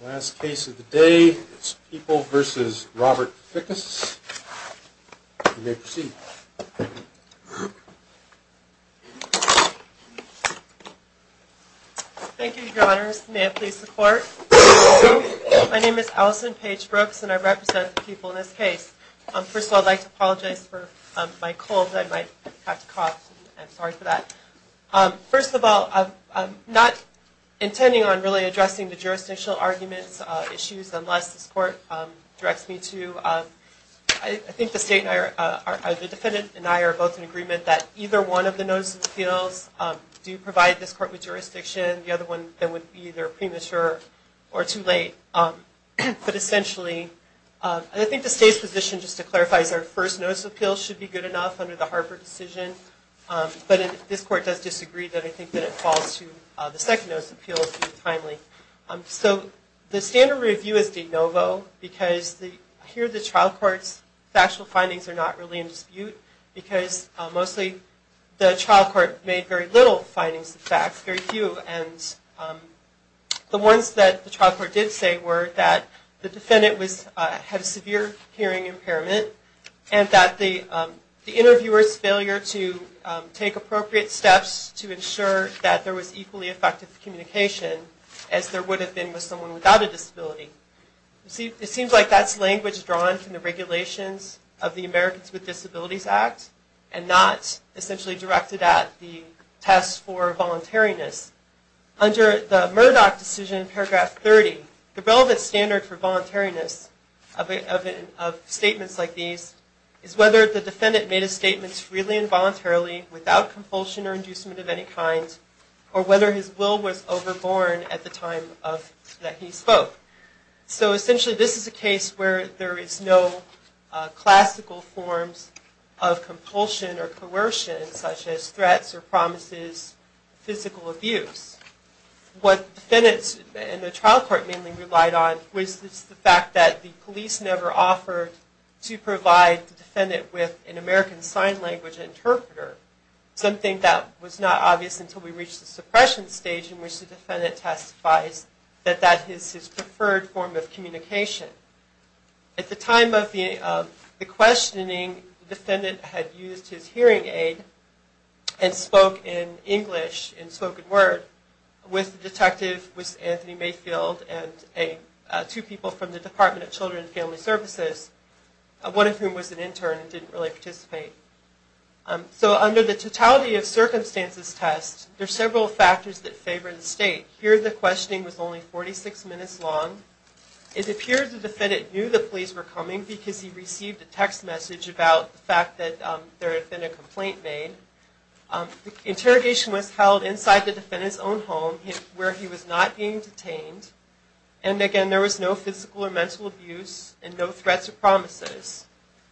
Last case of the day, it's People v. Robert Fickes. You may proceed. Thank you, Your Honors. May it please the Court. My name is Allison Paige Brooks, and I represent the People in this case. First of all, I'd like to apologize for my cold that I might have to cough. I'm sorry for that. First of all, I'm not intending on really addressing the jurisdictional arguments, issues, unless this Court directs me to. I think the State and I, the Defendant and I, are both in agreement that either one of the notices of appeals do provide this Court with jurisdiction, the other one then would be either premature or too late. But essentially, I think the State's position, just to clarify, is our first notice of appeals should be good enough under the Harper decision, but this Court does disagree that I think that it falls to the second notice of appeals to be timely. So the standard review is de novo, because here the child court's factual findings are not really in dispute, because mostly the child court made very little findings of facts, very few, and the ones that the child court did say were that the Defendant had a severe hearing impairment, and that the interviewer's failure to take appropriate steps to ensure that there was equally effective communication as there would have been with someone without a disability. It seems like that's language drawn from the regulations of the Americans with Disabilities Act, and not essentially directed at the test for voluntariness. Under the Murdoch decision, paragraph 30, the relevant standard for voluntariness of statements like these is whether the Defendant made a statement freely and voluntarily, without compulsion or inducement of any kind, or whether his will was overborne at the time that he spoke. So essentially this is a case where there is no classical forms of compulsion or coercion, such as threats or promises, physical abuse. What the Defendants and the child court mainly relied on was the fact that the police never offered to provide the Defendant with an American Sign Language interpreter, something that was not obvious until we reached the suppression stage, in which the Defendant testifies that that is his preferred form of communication. At the time of the questioning, the Defendant had used his hearing aid and spoke in English, in spoken word, with the detective, with Anthony Mayfield, and two people from the Department of Children and Family Services, one of whom was an intern and didn't really participate. So under the totality of circumstances test, there are several factors that favor the State. Here the questioning was only 46 minutes long. It appeared the Defendant knew the police were coming because he received a text message about the fact that there had been a complaint made. Interrogation was held inside the Defendant's own home, where he was not being detained. And again, there was no physical or mental abuse, and no threats or promises.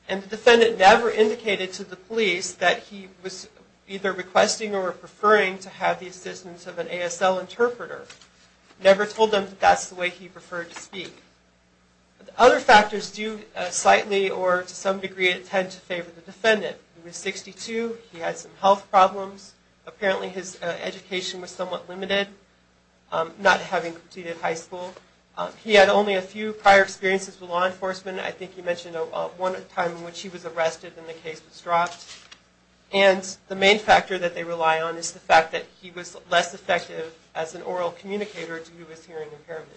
And the Defendant never indicated to the police that he was either requesting or preferring to have the assistance of an ASL interpreter. Never told them that that's the way he preferred to speak. Other factors do slightly, or to some degree, tend to favor the Defendant. He was 62. He had some health problems. Apparently his education was somewhat limited, not having completed high school. He had only a few prior experiences with law enforcement. I think you mentioned one time in which he was arrested and the case was dropped. And the main factor that they rely on is the fact that he was less effective as an oral communicator due to his hearing impairment.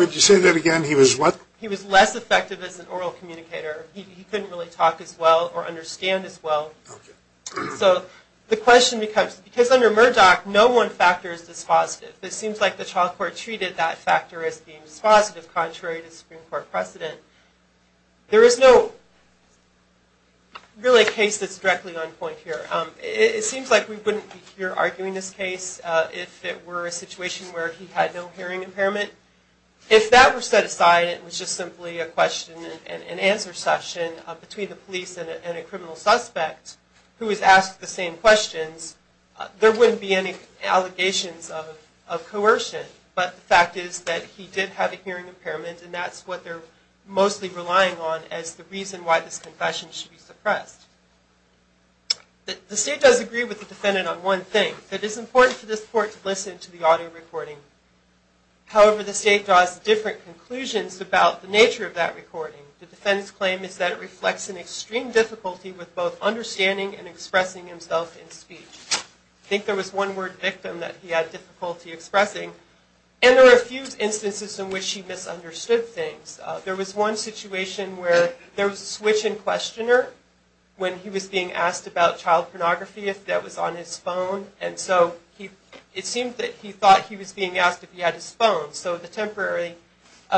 Would you say that again? He was what? He was less effective as an oral communicator. He couldn't really talk as well or understand as well. So the question becomes, because under Murdoch, no one factor is dispositive. There is no really case that's directly on point here. It seems like we wouldn't be here arguing this case if it were a situation where he had no hearing impairment. If that were set aside and it was just simply a question and answer session between the police and a criminal suspect who was asked the same questions, there wouldn't be any allegations of coercion. But the fact is that he did have a hearing impairment and that's what they're mostly relying on as the reason why this confession should be suppressed. The state does agree with the defendant on one thing. It is important for this court to listen to the audio recording. However, the state draws different conclusions about the nature of that recording. The defendant's claim is that it reflects an extreme difficulty with both understanding and expressing himself in speech. I think there was one word, victim, that he had difficulty expressing. And there were a few instances in which he misunderstood things. There was one situation where there was a switch in questioner when he was being asked about child pornography that was on his phone. And so it seemed that he thought he was being asked if he had his phone. So the temporary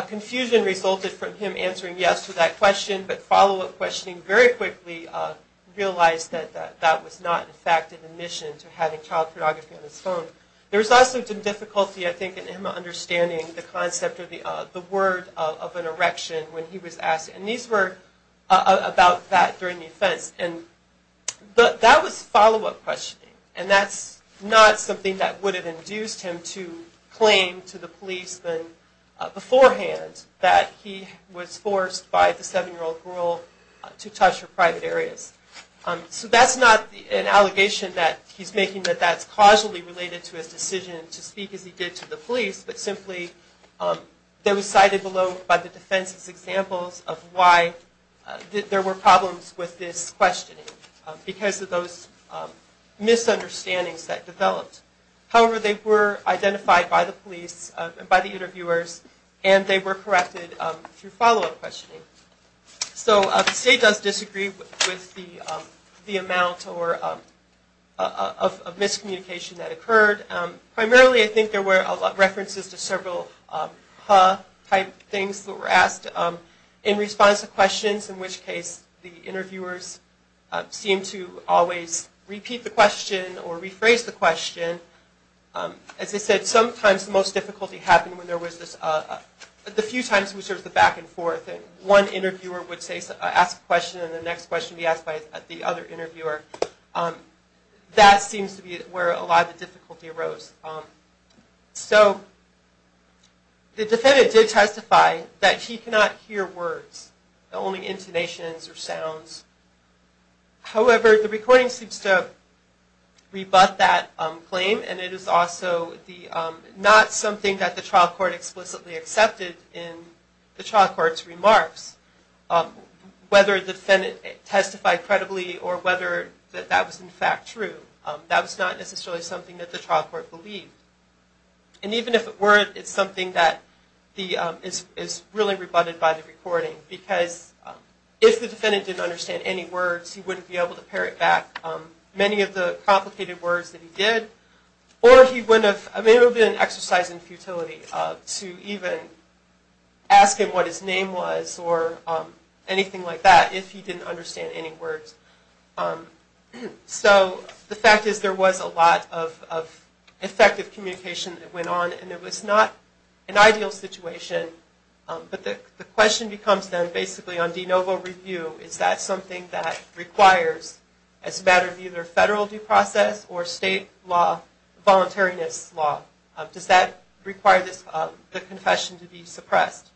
confusion resulted from him answering yes to that question, but follow-up questioning very quickly realized that that was not, in fact, an admission to having child pornography on his phone. There was also some difficulty, I think, in him understanding the concept or the word of an erection when he was asked. And these were about that during the offense. And that was follow-up questioning. And that's not something that would have induced him to claim to the policeman beforehand that he was forced by the 7-year-old girl to touch her private areas. So that's not an allegation that he's making, that that's causally related to his decision to speak as he did to the police, but simply they were cited below by the defense as examples of why there were problems with this questioning because of those misunderstandings that developed. However, they were identified by the police, by the interviewers, and they were corrected through follow-up questioning. So the state does disagree with the amount of miscommunication that occurred. Primarily, I think there were references to several ha-type things that were asked in response to questions, in which case the interviewers seemed to always repeat the question or rephrase the question. As I said, sometimes the most difficulty happened when there was this, the few times in which there was a back-and-forth and one interviewer would ask a question and the next question would be asked by the other interviewer. That seems to be where a lot of the difficulty arose. So the defendant did testify that he could not hear words, only intonations or sounds. However, the recording seems to rebut that claim, and it is also not something that the trial court explicitly accepted in the trial court's remarks. Whether the defendant testified credibly or whether that was in fact true, that was not necessarily something that the trial court believed. And even if it were, it's something that is really rebutted by the recording because if the defendant didn't understand any words, he wouldn't be able to parrot back many of the complicated words that he did, or it would have been an exercise in futility to even ask him what his name was or anything like that if he didn't understand any words. So the fact is there was a lot of effective communication that went on, and it was not an ideal situation, but the question becomes then basically on de novo review, is that something that requires as a matter of either federal due process or state law, voluntariness law, does that require the confession to be suppressed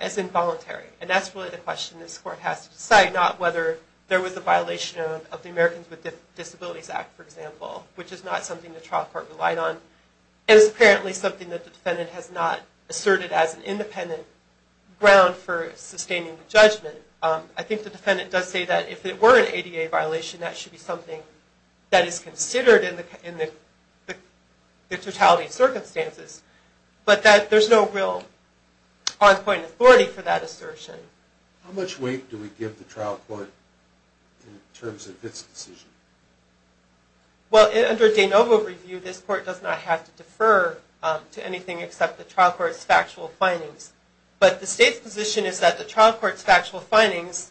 as involuntary? And that's really the question this court has to decide, not whether there was a violation of the Americans with Disabilities Act, for example, which is not something the trial court relied on. And it's apparently something that the defendant has not asserted as an independent ground for sustaining the judgment. I think the defendant does say that if it were an ADA violation, that should be something that is considered in the totality of circumstances, but that there's no real on-point authority for that assertion. How much weight do we give the trial court in terms of its decision? Well, under de novo review, this court does not have to defer to anything except the trial court's factual findings. But the state's position is that the trial court's factual findings,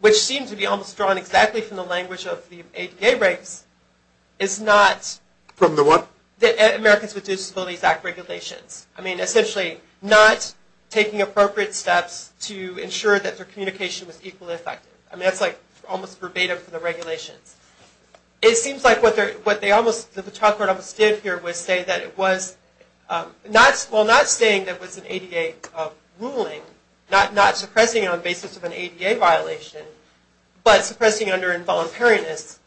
which seem to be almost drawn exactly from the language of the ADA breaks, is not... From the what? The Americans with Disabilities Act regulations. I mean, essentially not taking appropriate steps to ensure that their communication was equally effective. I mean, that's almost verbatim from the regulations. It seems like what the trial court almost did here was say that it was... Well, not saying that it was an ADA ruling, not suppressing it on the basis of an ADA violation, but suppressing it under involuntariness,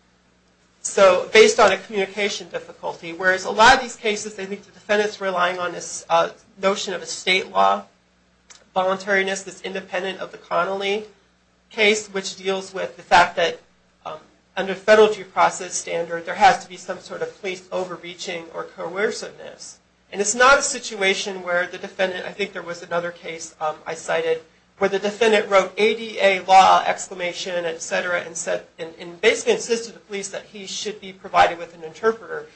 so based on a communication difficulty. Whereas a lot of these cases, I think the defendant's relying on this notion of a state law, involuntariness that's independent of the Connolly case, which deals with the fact that under federal due process standard, there has to be some sort of police overreaching or coerciveness. And it's not a situation where the defendant... I think there was another case I cited where the defendant wrote ADA law exclamation, et cetera, and basically insisted to the police that he should be provided with an interpreter.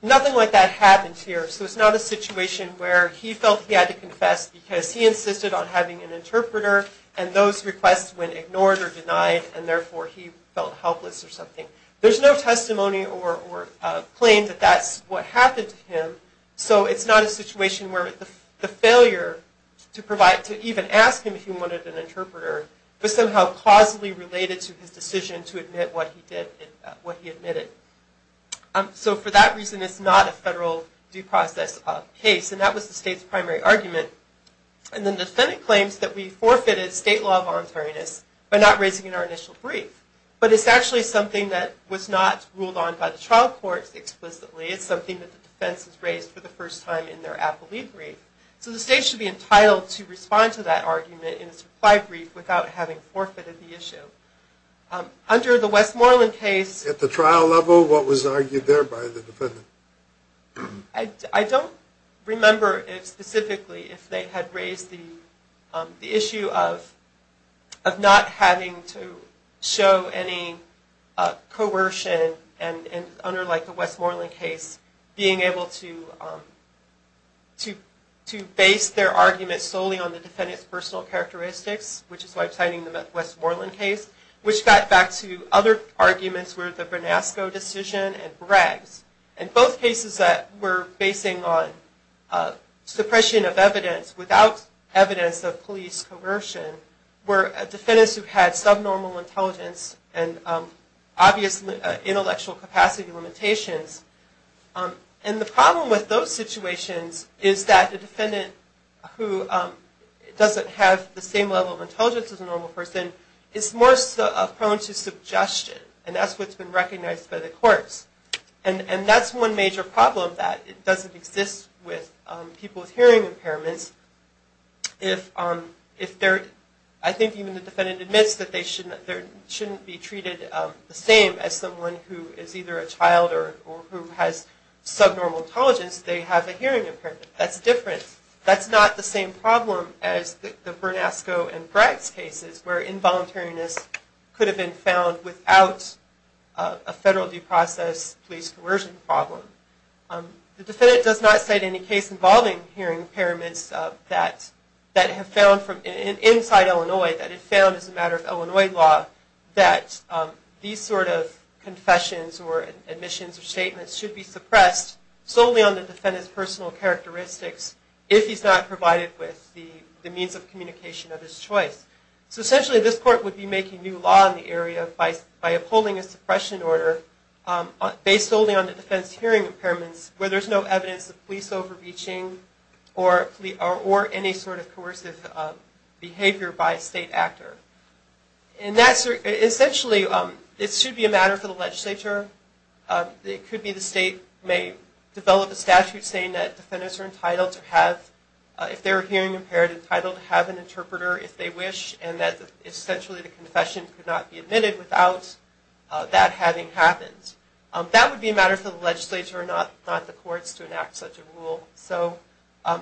Nothing like that happens here, so it's not a situation where he felt he had to confess because he insisted on having an interpreter, and those requests went ignored or denied, and therefore he felt helpless or something. There's no testimony or claim that that's what happened to him, so it's not a situation where the failure to provide, to even ask him if he wanted an interpreter was somehow causally related to his decision to admit what he did, what he admitted. So for that reason, it's not a federal due process case, and that was the state's primary argument. And then the defendant claims that we forfeited state law voluntariness by not raising it in our initial brief. But it's actually something that was not ruled on by the trial courts explicitly. It's something that the defense has raised for the first time in their appellee brief. So the state should be entitled to respond to that argument in its reply brief without having forfeited the issue. Under the Westmoreland case... At the trial level, what was argued there by the defendant? I don't remember specifically if they had raised the issue of not having to show any coercion under the Westmoreland case, being able to base their argument solely on the defendant's personal characteristics, which is why I'm citing the Westmoreland case, which got back to other arguments where the Bernasco decision and Bragg's, and both cases that were basing on suppression of evidence without evidence of police coercion, were defendants who had subnormal intelligence and obvious intellectual capacity limitations. And the problem with those situations is that the defendant who doesn't have the same level of intelligence as a normal person is more prone to suggestion, and that's what's been recognized by the courts. And that's one major problem, that it doesn't exist with people with hearing impairments. I think even the defendant admits that they shouldn't be treated the same as someone who is either a child or who has subnormal intelligence. They have a hearing impairment. That's different. That's not the same problem as the Bernasco and Bragg's cases where involuntariness could have been found without a federal due process police coercion problem. The defendant does not cite any case involving hearing impairments that have found from inside Illinois, that it found as a matter of Illinois law, that these sort of confessions or admissions or statements should be suppressed solely on the defendant's personal characteristics if he's not provided with the means of communication of his choice. So essentially this court would be making new law in the area by upholding a suppression order based solely on the defendant's hearing impairments where there's no evidence of police overreaching or any sort of coercive behavior by a state actor. And that's essentially, it should be a matter for the legislature. It could be the state may develop a statute saying that defendants are entitled to have, if they're hearing impaired, entitled to have an interpreter if they wish and that essentially the confession could not be admitted without that having happened. That would be a matter for the legislature and not the courts to enact such a rule. So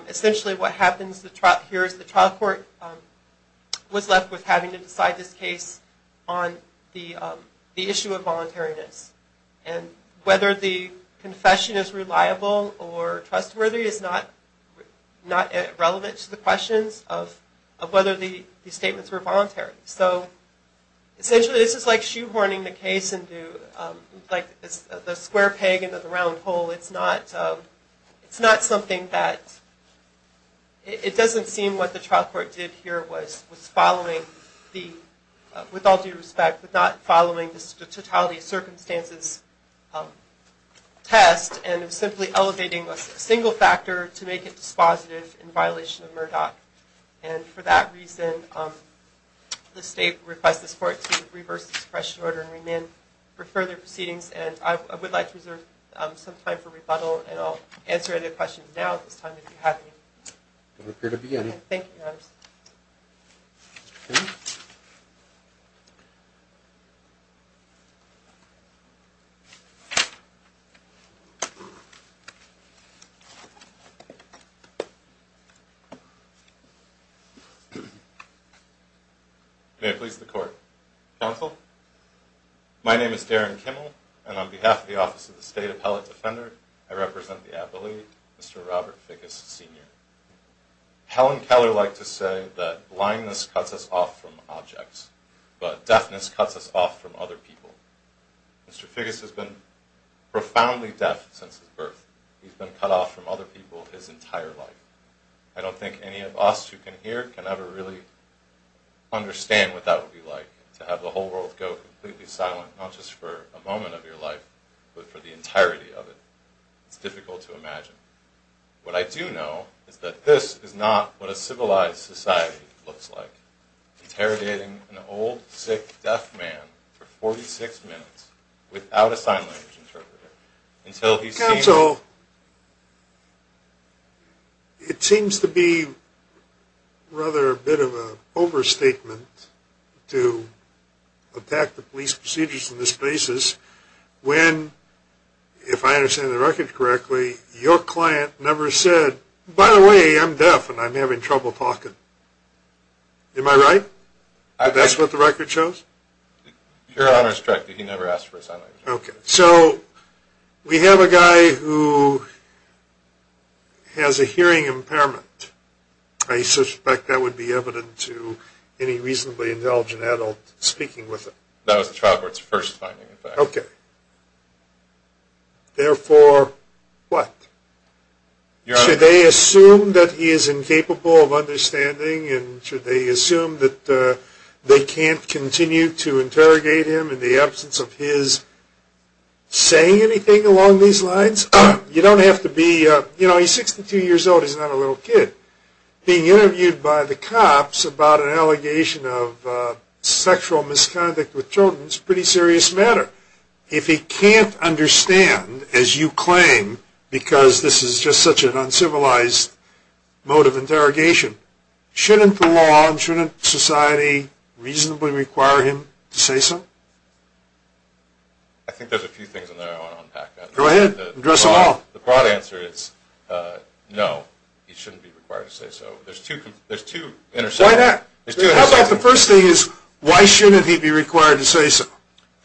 essentially what happens here is the trial court was left with having to decide this case on the issue of voluntariness. And whether the confession is reliable or trustworthy is not relevant to the questions of whether the statements were voluntary. So essentially this is like shoehorning the case into the square peg into the round hole. It's not something that, it doesn't seem what the trial court did here was following the, with all due respect, but not following the totality of circumstances test and simply elevating a single factor to make it dispositive in violation of Murdoch. And for that reason, the state requests the court to reverse this question order and remain for further proceedings and I would like to reserve some time for rebuttal and I'll answer any questions now at this time if you have any. There don't appear to be any. Thank you, Your Honor. May it please the court. Counsel, my name is Darren Kimmel and on behalf of the Office of the State Appellate Defender I represent the appellate Mr. Robert Figgis Sr. Helen Keller liked to say that blindness cuts us off from objects but deafness cuts us off from other people. Mr. Figgis has been profoundly deaf since his birth. He's been cut off from other people his entire life. I don't think any of us who can hear can ever really understand what that would be like to have the whole world go completely silent not just for a moment of your life but for the entirety of it. It's difficult to imagine. What I do know is that this is not what a civilized society looks like. Interrogating an old, sick, deaf man for 46 minutes without a sign language interpreter until he sees... Counsel, it seems to be rather a bit of an overstatement to attack the police procedures on this basis when, if I understand the record correctly, your client never said, by the way, I'm deaf and I'm having trouble talking. Am I right? That's what the record shows? Your Honor is correct. He never asked for a sign language interpreter. Okay, so we have a guy who has a hearing impairment. I suspect that would be evident to any reasonably intelligent adult speaking with him. That was the trial court's first finding. Okay. Therefore, what? Should they assume that he is incapable of understanding and should they assume that they can't continue to interrogate him in the absence of his saying anything along these lines? You don't have to be... You know, he's 62 years old. He's not a little kid. Being interviewed by the cops about an allegation of sexual misconduct with children is a pretty serious matter. If he can't understand, as you claim, because this is just such an uncivilized mode of interrogation, shouldn't the law and shouldn't society reasonably require him to say so? I think there's a few things in there I want to unpack. Go ahead. Address them all. The broad answer is no, he shouldn't be required to say so. There's two intersections. How about the first thing is why shouldn't he be required to say so?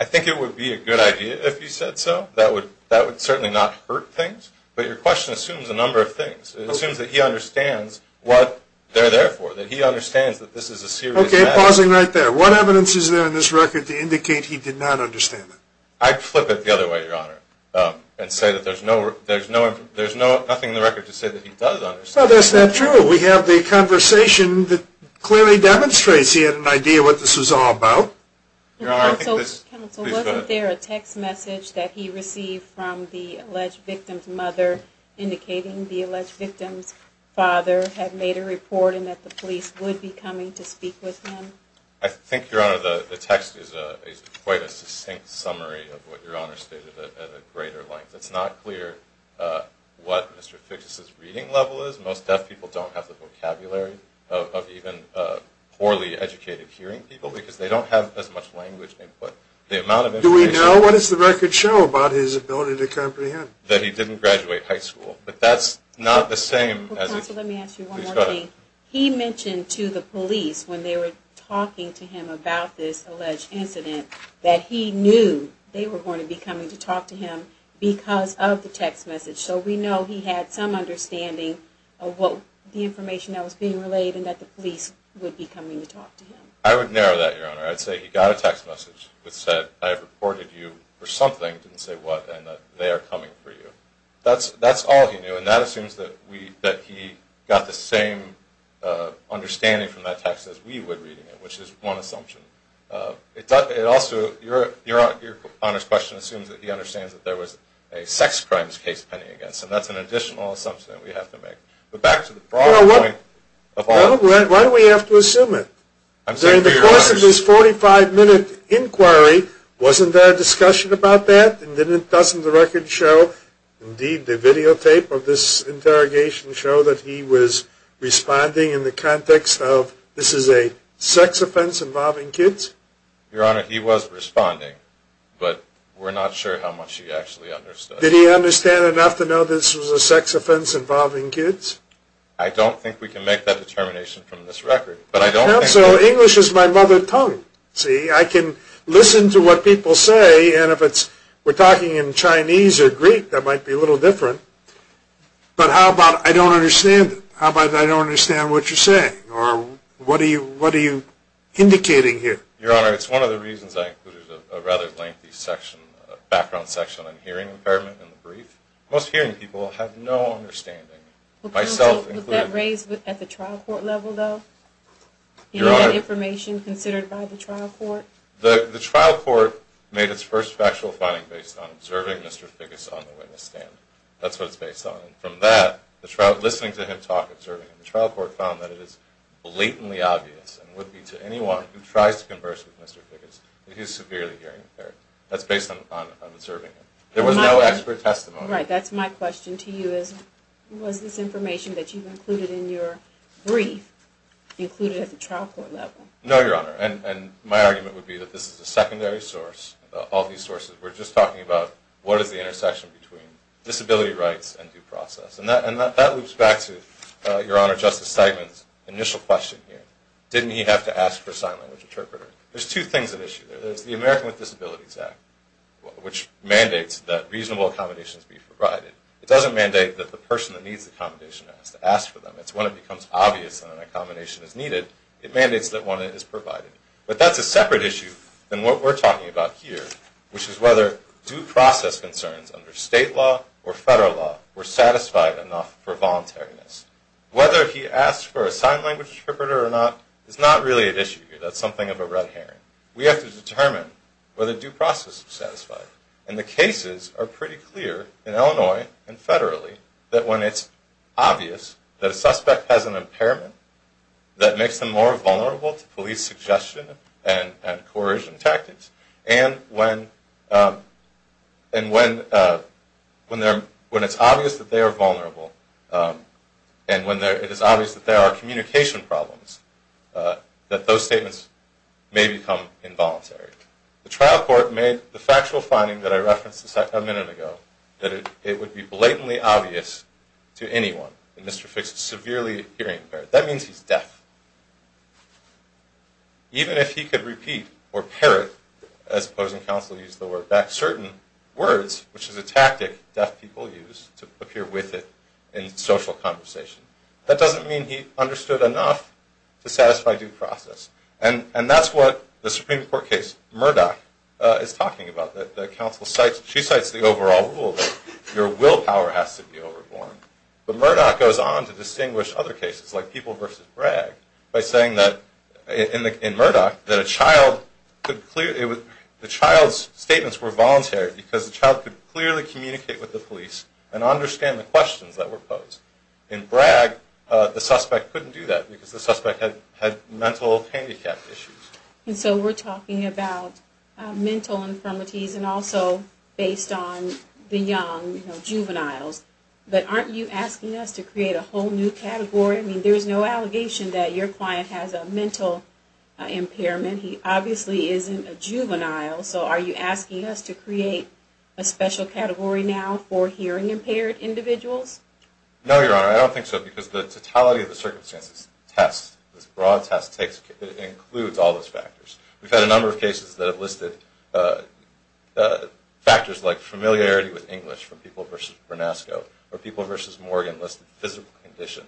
I think it would be a good idea if he said so. That would certainly not hurt things. But your question assumes a number of things. It assumes that he understands what they're there for, that he understands that this is a serious matter. Okay, pausing right there. What evidence is there in this record to indicate he did not understand it? I'd flip it the other way, Your Honor, and say that there's nothing in the record to say that he does understand it. Well, that's not true. We have the conversation that clearly demonstrates he had an idea what this was all about. Counsel, wasn't there a text message that he received from the alleged victim's mother indicating the alleged victim's father had made a report and that the police would be coming to speak with him? I think, Your Honor, the text is quite a succinct summary of what Your Honor stated at a greater length. It's not clear what Mr. Fitch's reading level is. Most deaf people don't have the vocabulary of even poorly educated hearing people because they don't have as much language input. Do we know? What does the record show about his ability to comprehend? That he didn't graduate high school. But that's not the same. Counsel, let me ask you one more thing. He mentioned to the police when they were talking to him about this alleged incident that he knew they were going to be coming to talk to him because of the text message. So we know he had some understanding of the information that was being relayed and that the police would be coming to talk to him. I would narrow that, Your Honor. I'd say he got a text message that said, I have reported you for something, didn't say what, and that they are coming for you. That's all he knew. And that assumes that he got the same understanding from that text as we would reading it, which is one assumption. It also, Your Honor's question assumes that he understands that there was a sex crimes case pending against him. That's an additional assumption that we have to make. But back to the broader point of all of this. Why do we have to assume it? During the course of this 45-minute inquiry, wasn't there a discussion about that? Doesn't the record show, indeed the videotape of this interrogation show, that he was responding in the context of this is a sex offense involving kids? Your Honor, he was responding. But we're not sure how much he actually understood. Did he understand enough to know this was a sex offense involving kids? I don't think we can make that determination from this record. I hope so. English is my mother tongue. See, I can listen to what people say. And if we're talking in Chinese or Greek, that might be a little different. But how about I don't understand it? How about I don't understand what you're saying? Or what are you indicating here? Your Honor, it's one of the reasons I included a rather lengthy section, a background section on hearing impairment in the brief. Most hearing people have no understanding. Myself included. Was that raised at the trial court level, though? Your Honor. That information considered by the trial court? The trial court made its first factual finding based on observing Mr. Figgis on the witness stand. That's what it's based on. And from that, listening to him talk, observing him, the trial court found that it is blatantly obvious and would be to anyone who tries to converse with Mr. Figgis that he's severely hearing impaired. That's based on observing him. There was no expert testimony. Right. That's my question to you is, was this information that you've included in your brief included at the trial court level? No, Your Honor. And my argument would be that this is a secondary source, all these sources. We're just talking about what is the intersection between disability rights and due process. And that loops back to, Your Honor, Justice Seidman's initial question here. Didn't he have to ask for a sign language interpreter? There's two things at issue there. There's the American with Disabilities Act, which mandates that reasonable accommodations be provided. It doesn't mandate that the person that needs the accommodation has to ask for them. It's when it becomes obvious that an accommodation is needed, it mandates that one is provided. But that's a separate issue than what we're talking about here, which is whether due process concerns under state law or federal law were satisfied enough for voluntariness. Whether he asked for a sign language interpreter or not is not really at issue here. That's something of a red herring. We have to determine whether due process is satisfied. And the cases are pretty clear in Illinois and federally that when it's obvious that a suspect has an impairment that makes them more vulnerable to police suggestion and coercion tactics. And when it's obvious that they are vulnerable and it is obvious that there are communication problems, that those statements may become involuntary. The trial court made the factual finding that I referenced a minute ago that it would be blatantly obvious to anyone that Mr. Fix is severely hearing impaired. That means he's deaf. Even if he could repeat or parrot, as opposing counsel used the word, back certain words, which is a tactic deaf people use to appear with it in social conversation, that doesn't mean he understood enough to satisfy due process. And that's what the Supreme Court case Murdoch is talking about. The counsel cites, she cites the overall rule that your willpower has to be overborne. But Murdoch goes on to distinguish other cases like People v. Bragg by saying that, in Murdoch, that a child could clearly, the child's statements were voluntary because the child could clearly communicate with the police and understand the questions that were posed. In Bragg, the suspect couldn't do that because the suspect had mental handicap issues. And so we're talking about mental infirmities and also based on the young, you know, juveniles that aren't you asking us to create a whole new category? I mean, there's no allegation that your client has a mental impairment. He obviously isn't a juvenile. So are you asking us to create a special category now for hearing impaired individuals? No, Your Honor, I don't think so because the totality of the circumstances test, this broad test, includes all those factors. We've had a number of cases that have listed factors like familiarity with English from People v. Bernasco or People v. Morgan listed physical condition.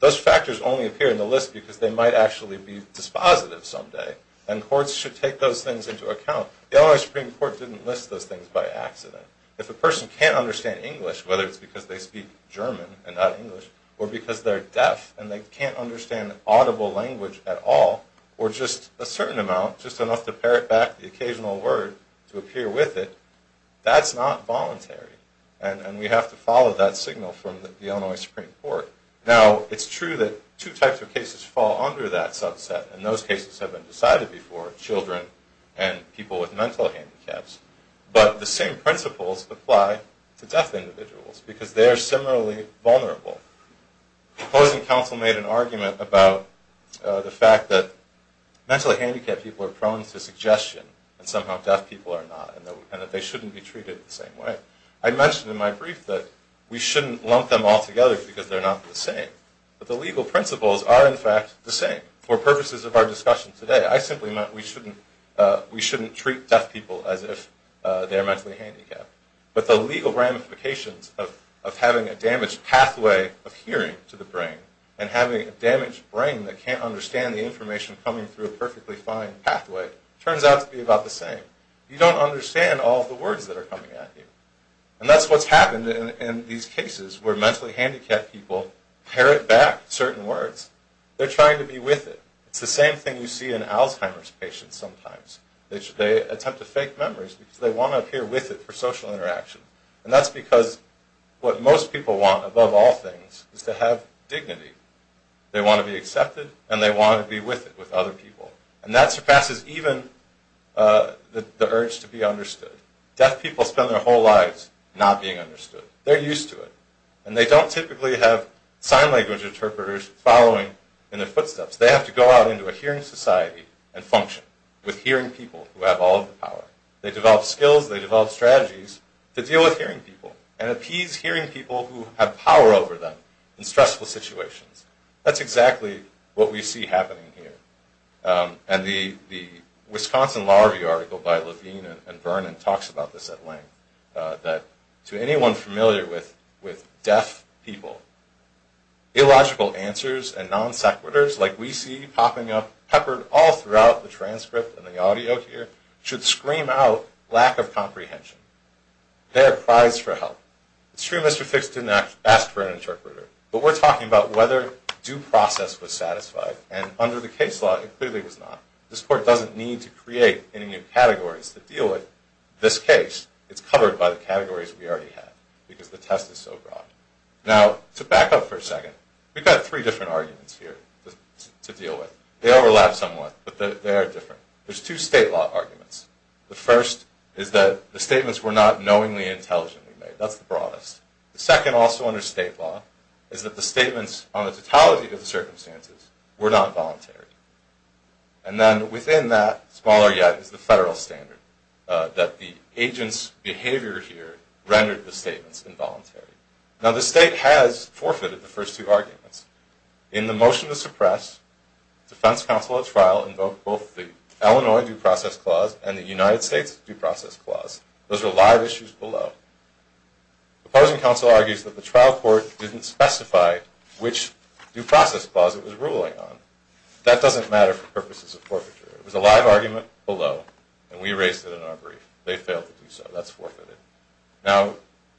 Those factors only appear in the list because they might actually be dispositive someday. And courts should take those things into account. The Illinois Supreme Court didn't list those things by accident. If a person can't understand English, whether it's because they speak German and not English, or because they're deaf and they can't understand audible language at all, or just a certain amount, just enough to parrot back the occasional word to appear with it, that's not voluntary. And we have to follow that signal from the Illinois Supreme Court. Now, it's true that two types of cases fall under that subset, and those cases have been decided before, children and people with mental handicaps. But the same principles apply to deaf individuals because they are similarly vulnerable. The opposing counsel made an argument about the fact that mentally handicapped people are prone to suggestion that somehow deaf people are not, and that they shouldn't be treated the same way. I mentioned in my brief that we shouldn't lump them all together because they're not the same. But the legal principles are, in fact, the same. For purposes of our discussion today, I simply meant we shouldn't treat deaf people as if they're mentally handicapped. But the legal ramifications of having a damaged pathway of hearing to the brain, and having a damaged brain that can't understand the information coming through a perfectly fine pathway, turns out to be about the same. You don't understand all of the words that are coming at you. And that's what's happened in these cases where mentally handicapped people parrot back certain words. They're trying to be with it. It's the same thing you see in Alzheimer's patients sometimes. They attempt to fake memories because they want to appear with it for social interaction. And that's because what most people want, above all things, is to have dignity. They want to be accepted, and they want to be with it with other people. And that surpasses even the urge to be understood. Deaf people spend their whole lives not being understood. They're used to it. And they don't typically have sign language interpreters following in their footsteps. They have to go out into a hearing society and function with hearing people who have all of the power. They develop skills. They develop strategies to deal with hearing people and appease hearing people who have power over them in stressful situations. That's exactly what we see happening here. And the Wisconsin Law Review article by Levine and Vernon talks about this at length. That to anyone familiar with deaf people, illogical answers and non sequiturs like we see popping up peppered all throughout the transcript and the audio here should scream out lack of comprehension. They are prized for help. It's true Mr. Fix didn't ask for an interpreter. But we're talking about whether due process was satisfied. And under the case law, it clearly was not. This court doesn't need to create any new categories to deal with this case. It's covered by the categories we already have. Because the test is so broad. Now, to back up for a second. We've got three different arguments here to deal with. They overlap somewhat, but they are different. There's two state law arguments. The first is that the statements were not knowingly and intelligently made. That's the broadest. The second, also under state law, is that the statements on the totality of the circumstances were not voluntary. And then within that, smaller yet, is the federal standard. That the agent's behavior here rendered the statements involuntary. Now the state has forfeited the first two arguments. In the motion to suppress, defense counsel at trial invoked both the Illinois Due Process Clause and the United States Due Process Clause. Those are live issues below. Opposing counsel argues that the trial court didn't specify which due process clause it was ruling on. That doesn't matter for purposes of forfeiture. It was a live argument below, and we raised it in our brief. They failed to do so. That's forfeited. Now,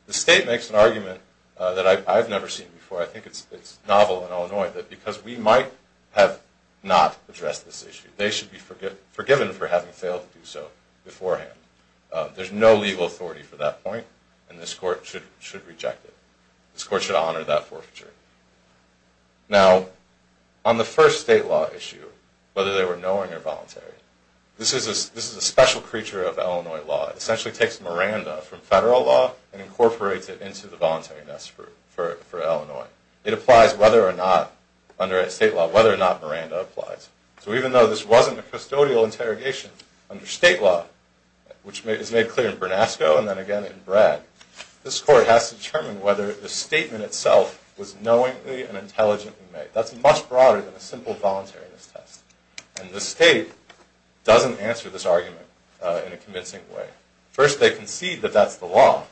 the state makes an argument that I've never seen before. I think it's novel in Illinois, that because we might have not addressed this issue, they should be forgiven for having failed to do so beforehand. There's no legal authority for that point, and this court should reject it. This court should honor that forfeiture. Now, on the first state law issue, whether they were knowing or voluntary, this is a special creature of Illinois law. It essentially takes Miranda from federal law and incorporates it into the voluntaryness for Illinois. It applies whether or not, under state law, whether or not Miranda applies. So even though this wasn't a custodial interrogation, under state law, which is made clear in Bernasco and then again in Brad, this court has to determine whether the statement itself was knowingly and intelligently made. That's much broader than a simple voluntariness test. And the state doesn't answer this argument in a convincing way. First, they concede that that's the law.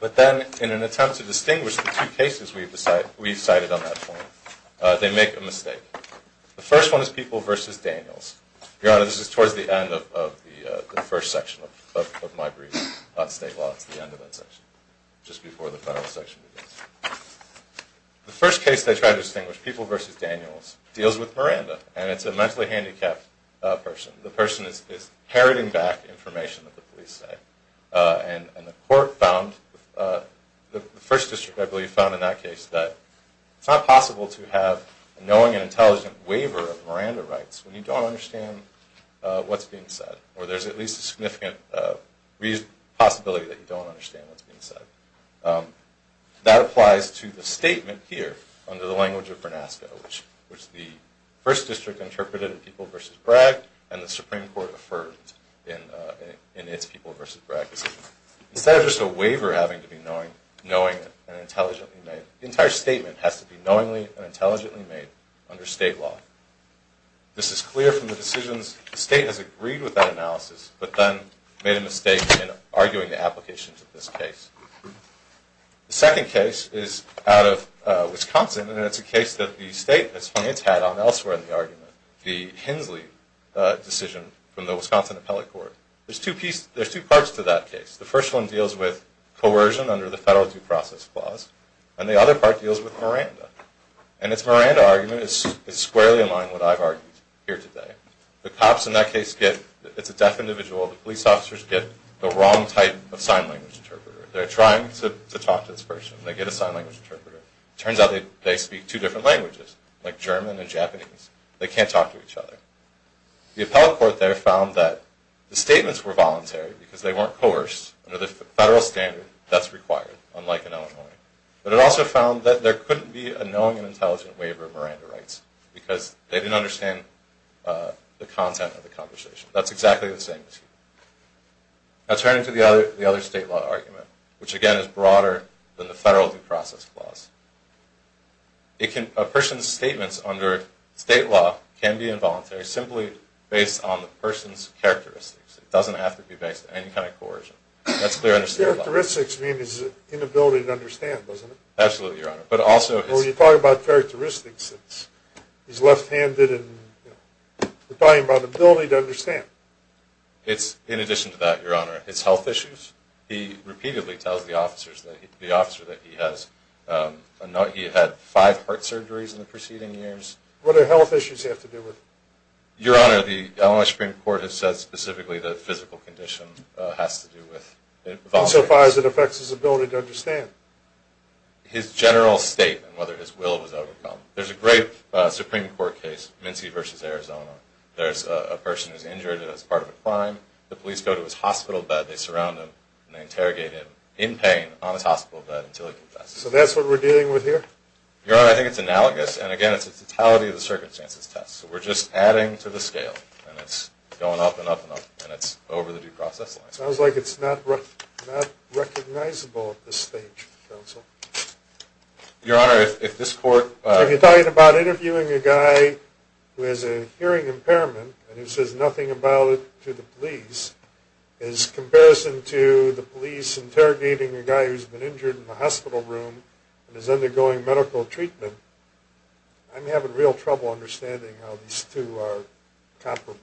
But then, in an attempt to distinguish the two cases we've cited on that point, they make a mistake. The first one is People v. Daniels. Your Honor, this is towards the end of the first section of my brief on state law. It's the end of that section, just before the final section begins. The first case they try to distinguish, People v. Daniels, deals with Miranda. And it's a mentally handicapped person. The person is heralding back information that the police say. And the court found, the first district, I believe, found in that case that it's not possible to have a knowing and intelligent waiver of Miranda rights when you don't understand what's being said. Or there's at least a significant possibility that you don't understand what's being said. That applies to the statement here, under the language of Vernasco, which the first district interpreted in People v. Bragg, and the Supreme Court affirmed in its People v. Bragg decision. Instead of just a waiver having to be knowingly and intelligently made, the entire statement has to be knowingly and intelligently made under state law. This is clear from the decisions. The state has agreed with that analysis, but then made a mistake in arguing the applications of this case. The second case is out of Wisconsin, and it's a case that the state has had on elsewhere in the argument, the Hensley decision from the Wisconsin Appellate Court. There's two parts to that case. The first one deals with coercion under the federal due process clause, and the other part deals with Miranda. And its Miranda argument is squarely in line with what I've argued here today. The cops in that case get, it's a deaf individual, the police officers get the wrong type of sign language interpreter. They're trying to talk to this person. They get a sign language interpreter. It turns out they speak two different languages, like German and Japanese. They can't talk to each other. The Appellate Court there found that the statements were voluntary because they weren't coerced under the federal standard that's required, unlike in Illinois. But it also found that there couldn't be a knowing and intelligent waiver of Miranda rights because they didn't understand the content of the conversation. That's exactly the same issue. Now turning to the other state law argument, which again is broader than the federal due process clause. A person's statements under state law can be involuntary simply based on the person's characteristics. It doesn't have to be based on any kind of coercion. Characteristics means inability to understand, doesn't it? Absolutely, Your Honor. When you talk about characteristics, it's left-handed and you're talking about inability to understand. In addition to that, Your Honor, it's health issues. He repeatedly tells the officer that he had five heart surgeries in the preceding years. What do health issues have to do with it? Your Honor, the Illinois Supreme Court has said specifically that physical condition has to do with vomiting. Insofar as it affects his ability to understand. His general state and whether his will was overcome. There's a great Supreme Court case, Mincy v. Arizona. There's a person who's injured as part of a crime. The police go to his hospital bed, they surround him, and they interrogate him in pain on his hospital bed until he confesses. So that's what we're dealing with here? Your Honor, I think it's analogous. And again, it's the totality of the circumstances test. So we're just adding to the scale. And it's going up and up and up. And it's over the due process line. It sounds like it's not recognizable at this stage, counsel. Your Honor, if this court... If you're talking about interviewing a guy who has a hearing impairment and he says nothing about it to the police, in comparison to the police interrogating a guy who's been injured in the hospital room and is undergoing medical treatment, I'm having real trouble understanding how these two are comparable.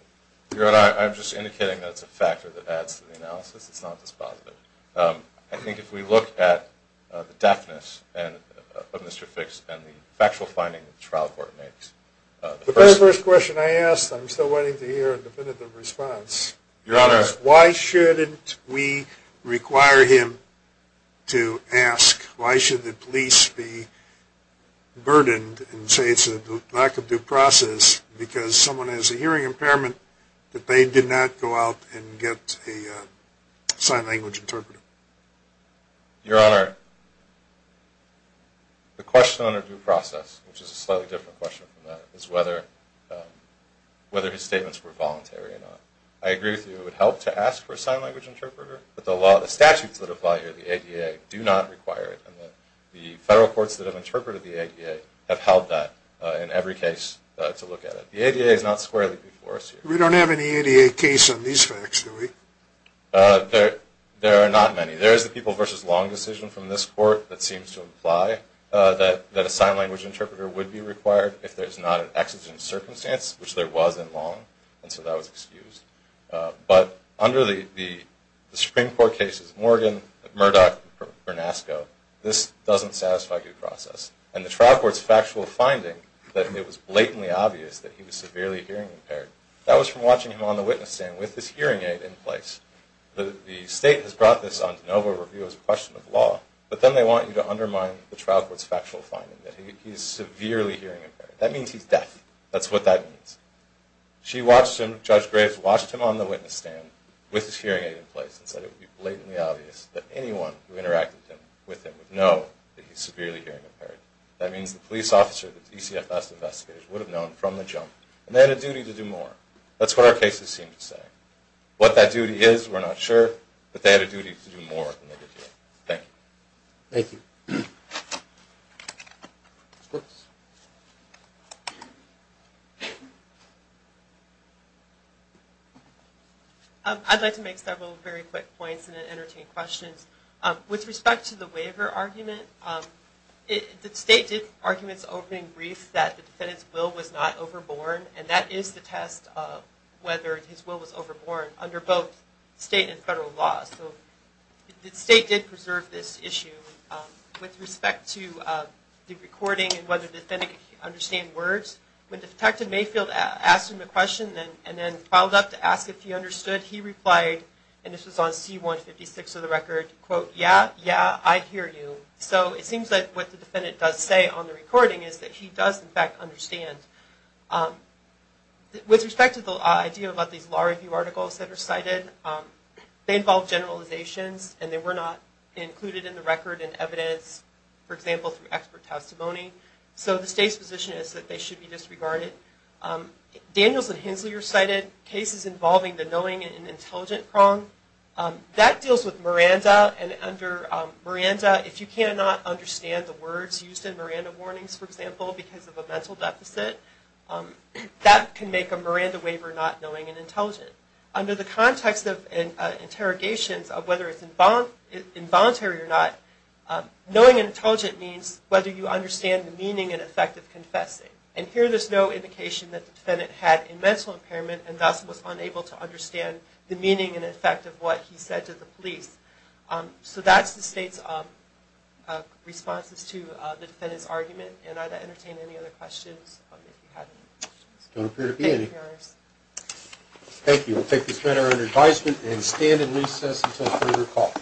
Your Honor, I'm just indicating that's a factor that adds to the analysis. It's not just positive. I think if we look at the deafness of Mr. Fix and the factual finding that the trial court makes... The very first question I asked, I'm still waiting to hear a definitive response, is why shouldn't we require him to ask, why should the police be burdened and say it's a lack of due process because someone has a hearing impairment that they did not go out and get a sign language interpreter? Your Honor, the question on a due process, which is a slightly different question from that, is whether his statements were voluntary or not. I agree with you. It would help to ask for a sign language interpreter, but the statutes that apply here, the ADA, do not require it. The federal courts that have interpreted the ADA have held that in every case to look at it. The ADA is not squarely before us here. We don't have any ADA case on these facts, do we? There are not many. There is the People v. Long decision from this Court that seems to imply that a sign language interpreter would be required if there's not an exigent circumstance, which there was in Long, and so that was excused. But under the Supreme Court cases, Morgan, Murdoch, and Bernasco, this doesn't satisfy due process. And the trial court's factual finding that it was blatantly obvious that he was severely hearing impaired, that was from watching him on the witness stand with his hearing aid in place. The State has brought this on to NOVA review as a question of law, but then they want you to undermine the trial court's factual finding that he's severely hearing impaired. That means he's deaf. That's what that means. She watched him, Judge Graves watched him on the witness stand with his hearing aid in place and said it would be blatantly obvious that anyone who interacted with him would know that he's severely hearing impaired. That means the police officer, the DCFS investigators, would have known from the jump, and they had a duty to do more. That's what our cases seem to say. What that duty is, we're not sure, but they had a duty to do more than they did here. Thank you. Thank you. I'd like to make several very quick points and then entertain questions. With respect to the waiver argument, the State did arguments over in brief that the defendant's will was not overborn, and that is the test of whether his will was overborn under both State and federal laws. So the State did preserve this issue. With respect to the recording and whether the defendant could understand words, when Detective Mayfield asked him a question and then filed up to ask if he understood, he replied, and this was on C-156 of the record, quote, yeah, yeah, I hear you. So it seems like what the defendant does say on the recording is that he does, in fact, understand. With respect to the idea about these law review articles that are cited, they involve generalizations, and they were not included in the record in evidence, for example, through expert testimony. So the State's position is that they should be disregarded. Daniels and Hensley recited cases involving the knowing and intelligent prong. That deals with Miranda. And under Miranda, if you cannot understand the words used in Miranda warnings, for example, because of a mental deficit, that can make a Miranda waiver not knowing and intelligent. Under the context of interrogations of whether it's involuntary or not, knowing and intelligent means whether you understand the meaning and effect of confessing. And here there's no indication that the defendant had a mental impairment and thus was unable to understand the meaning and effect of what he said to the police. So that's the State's responses to the defendant's argument. And I'd entertain any other questions if you have any. There don't appear to be any. Thank you, Your Honor. Thank you. We'll take this matter under advisement and stand in recess until further call.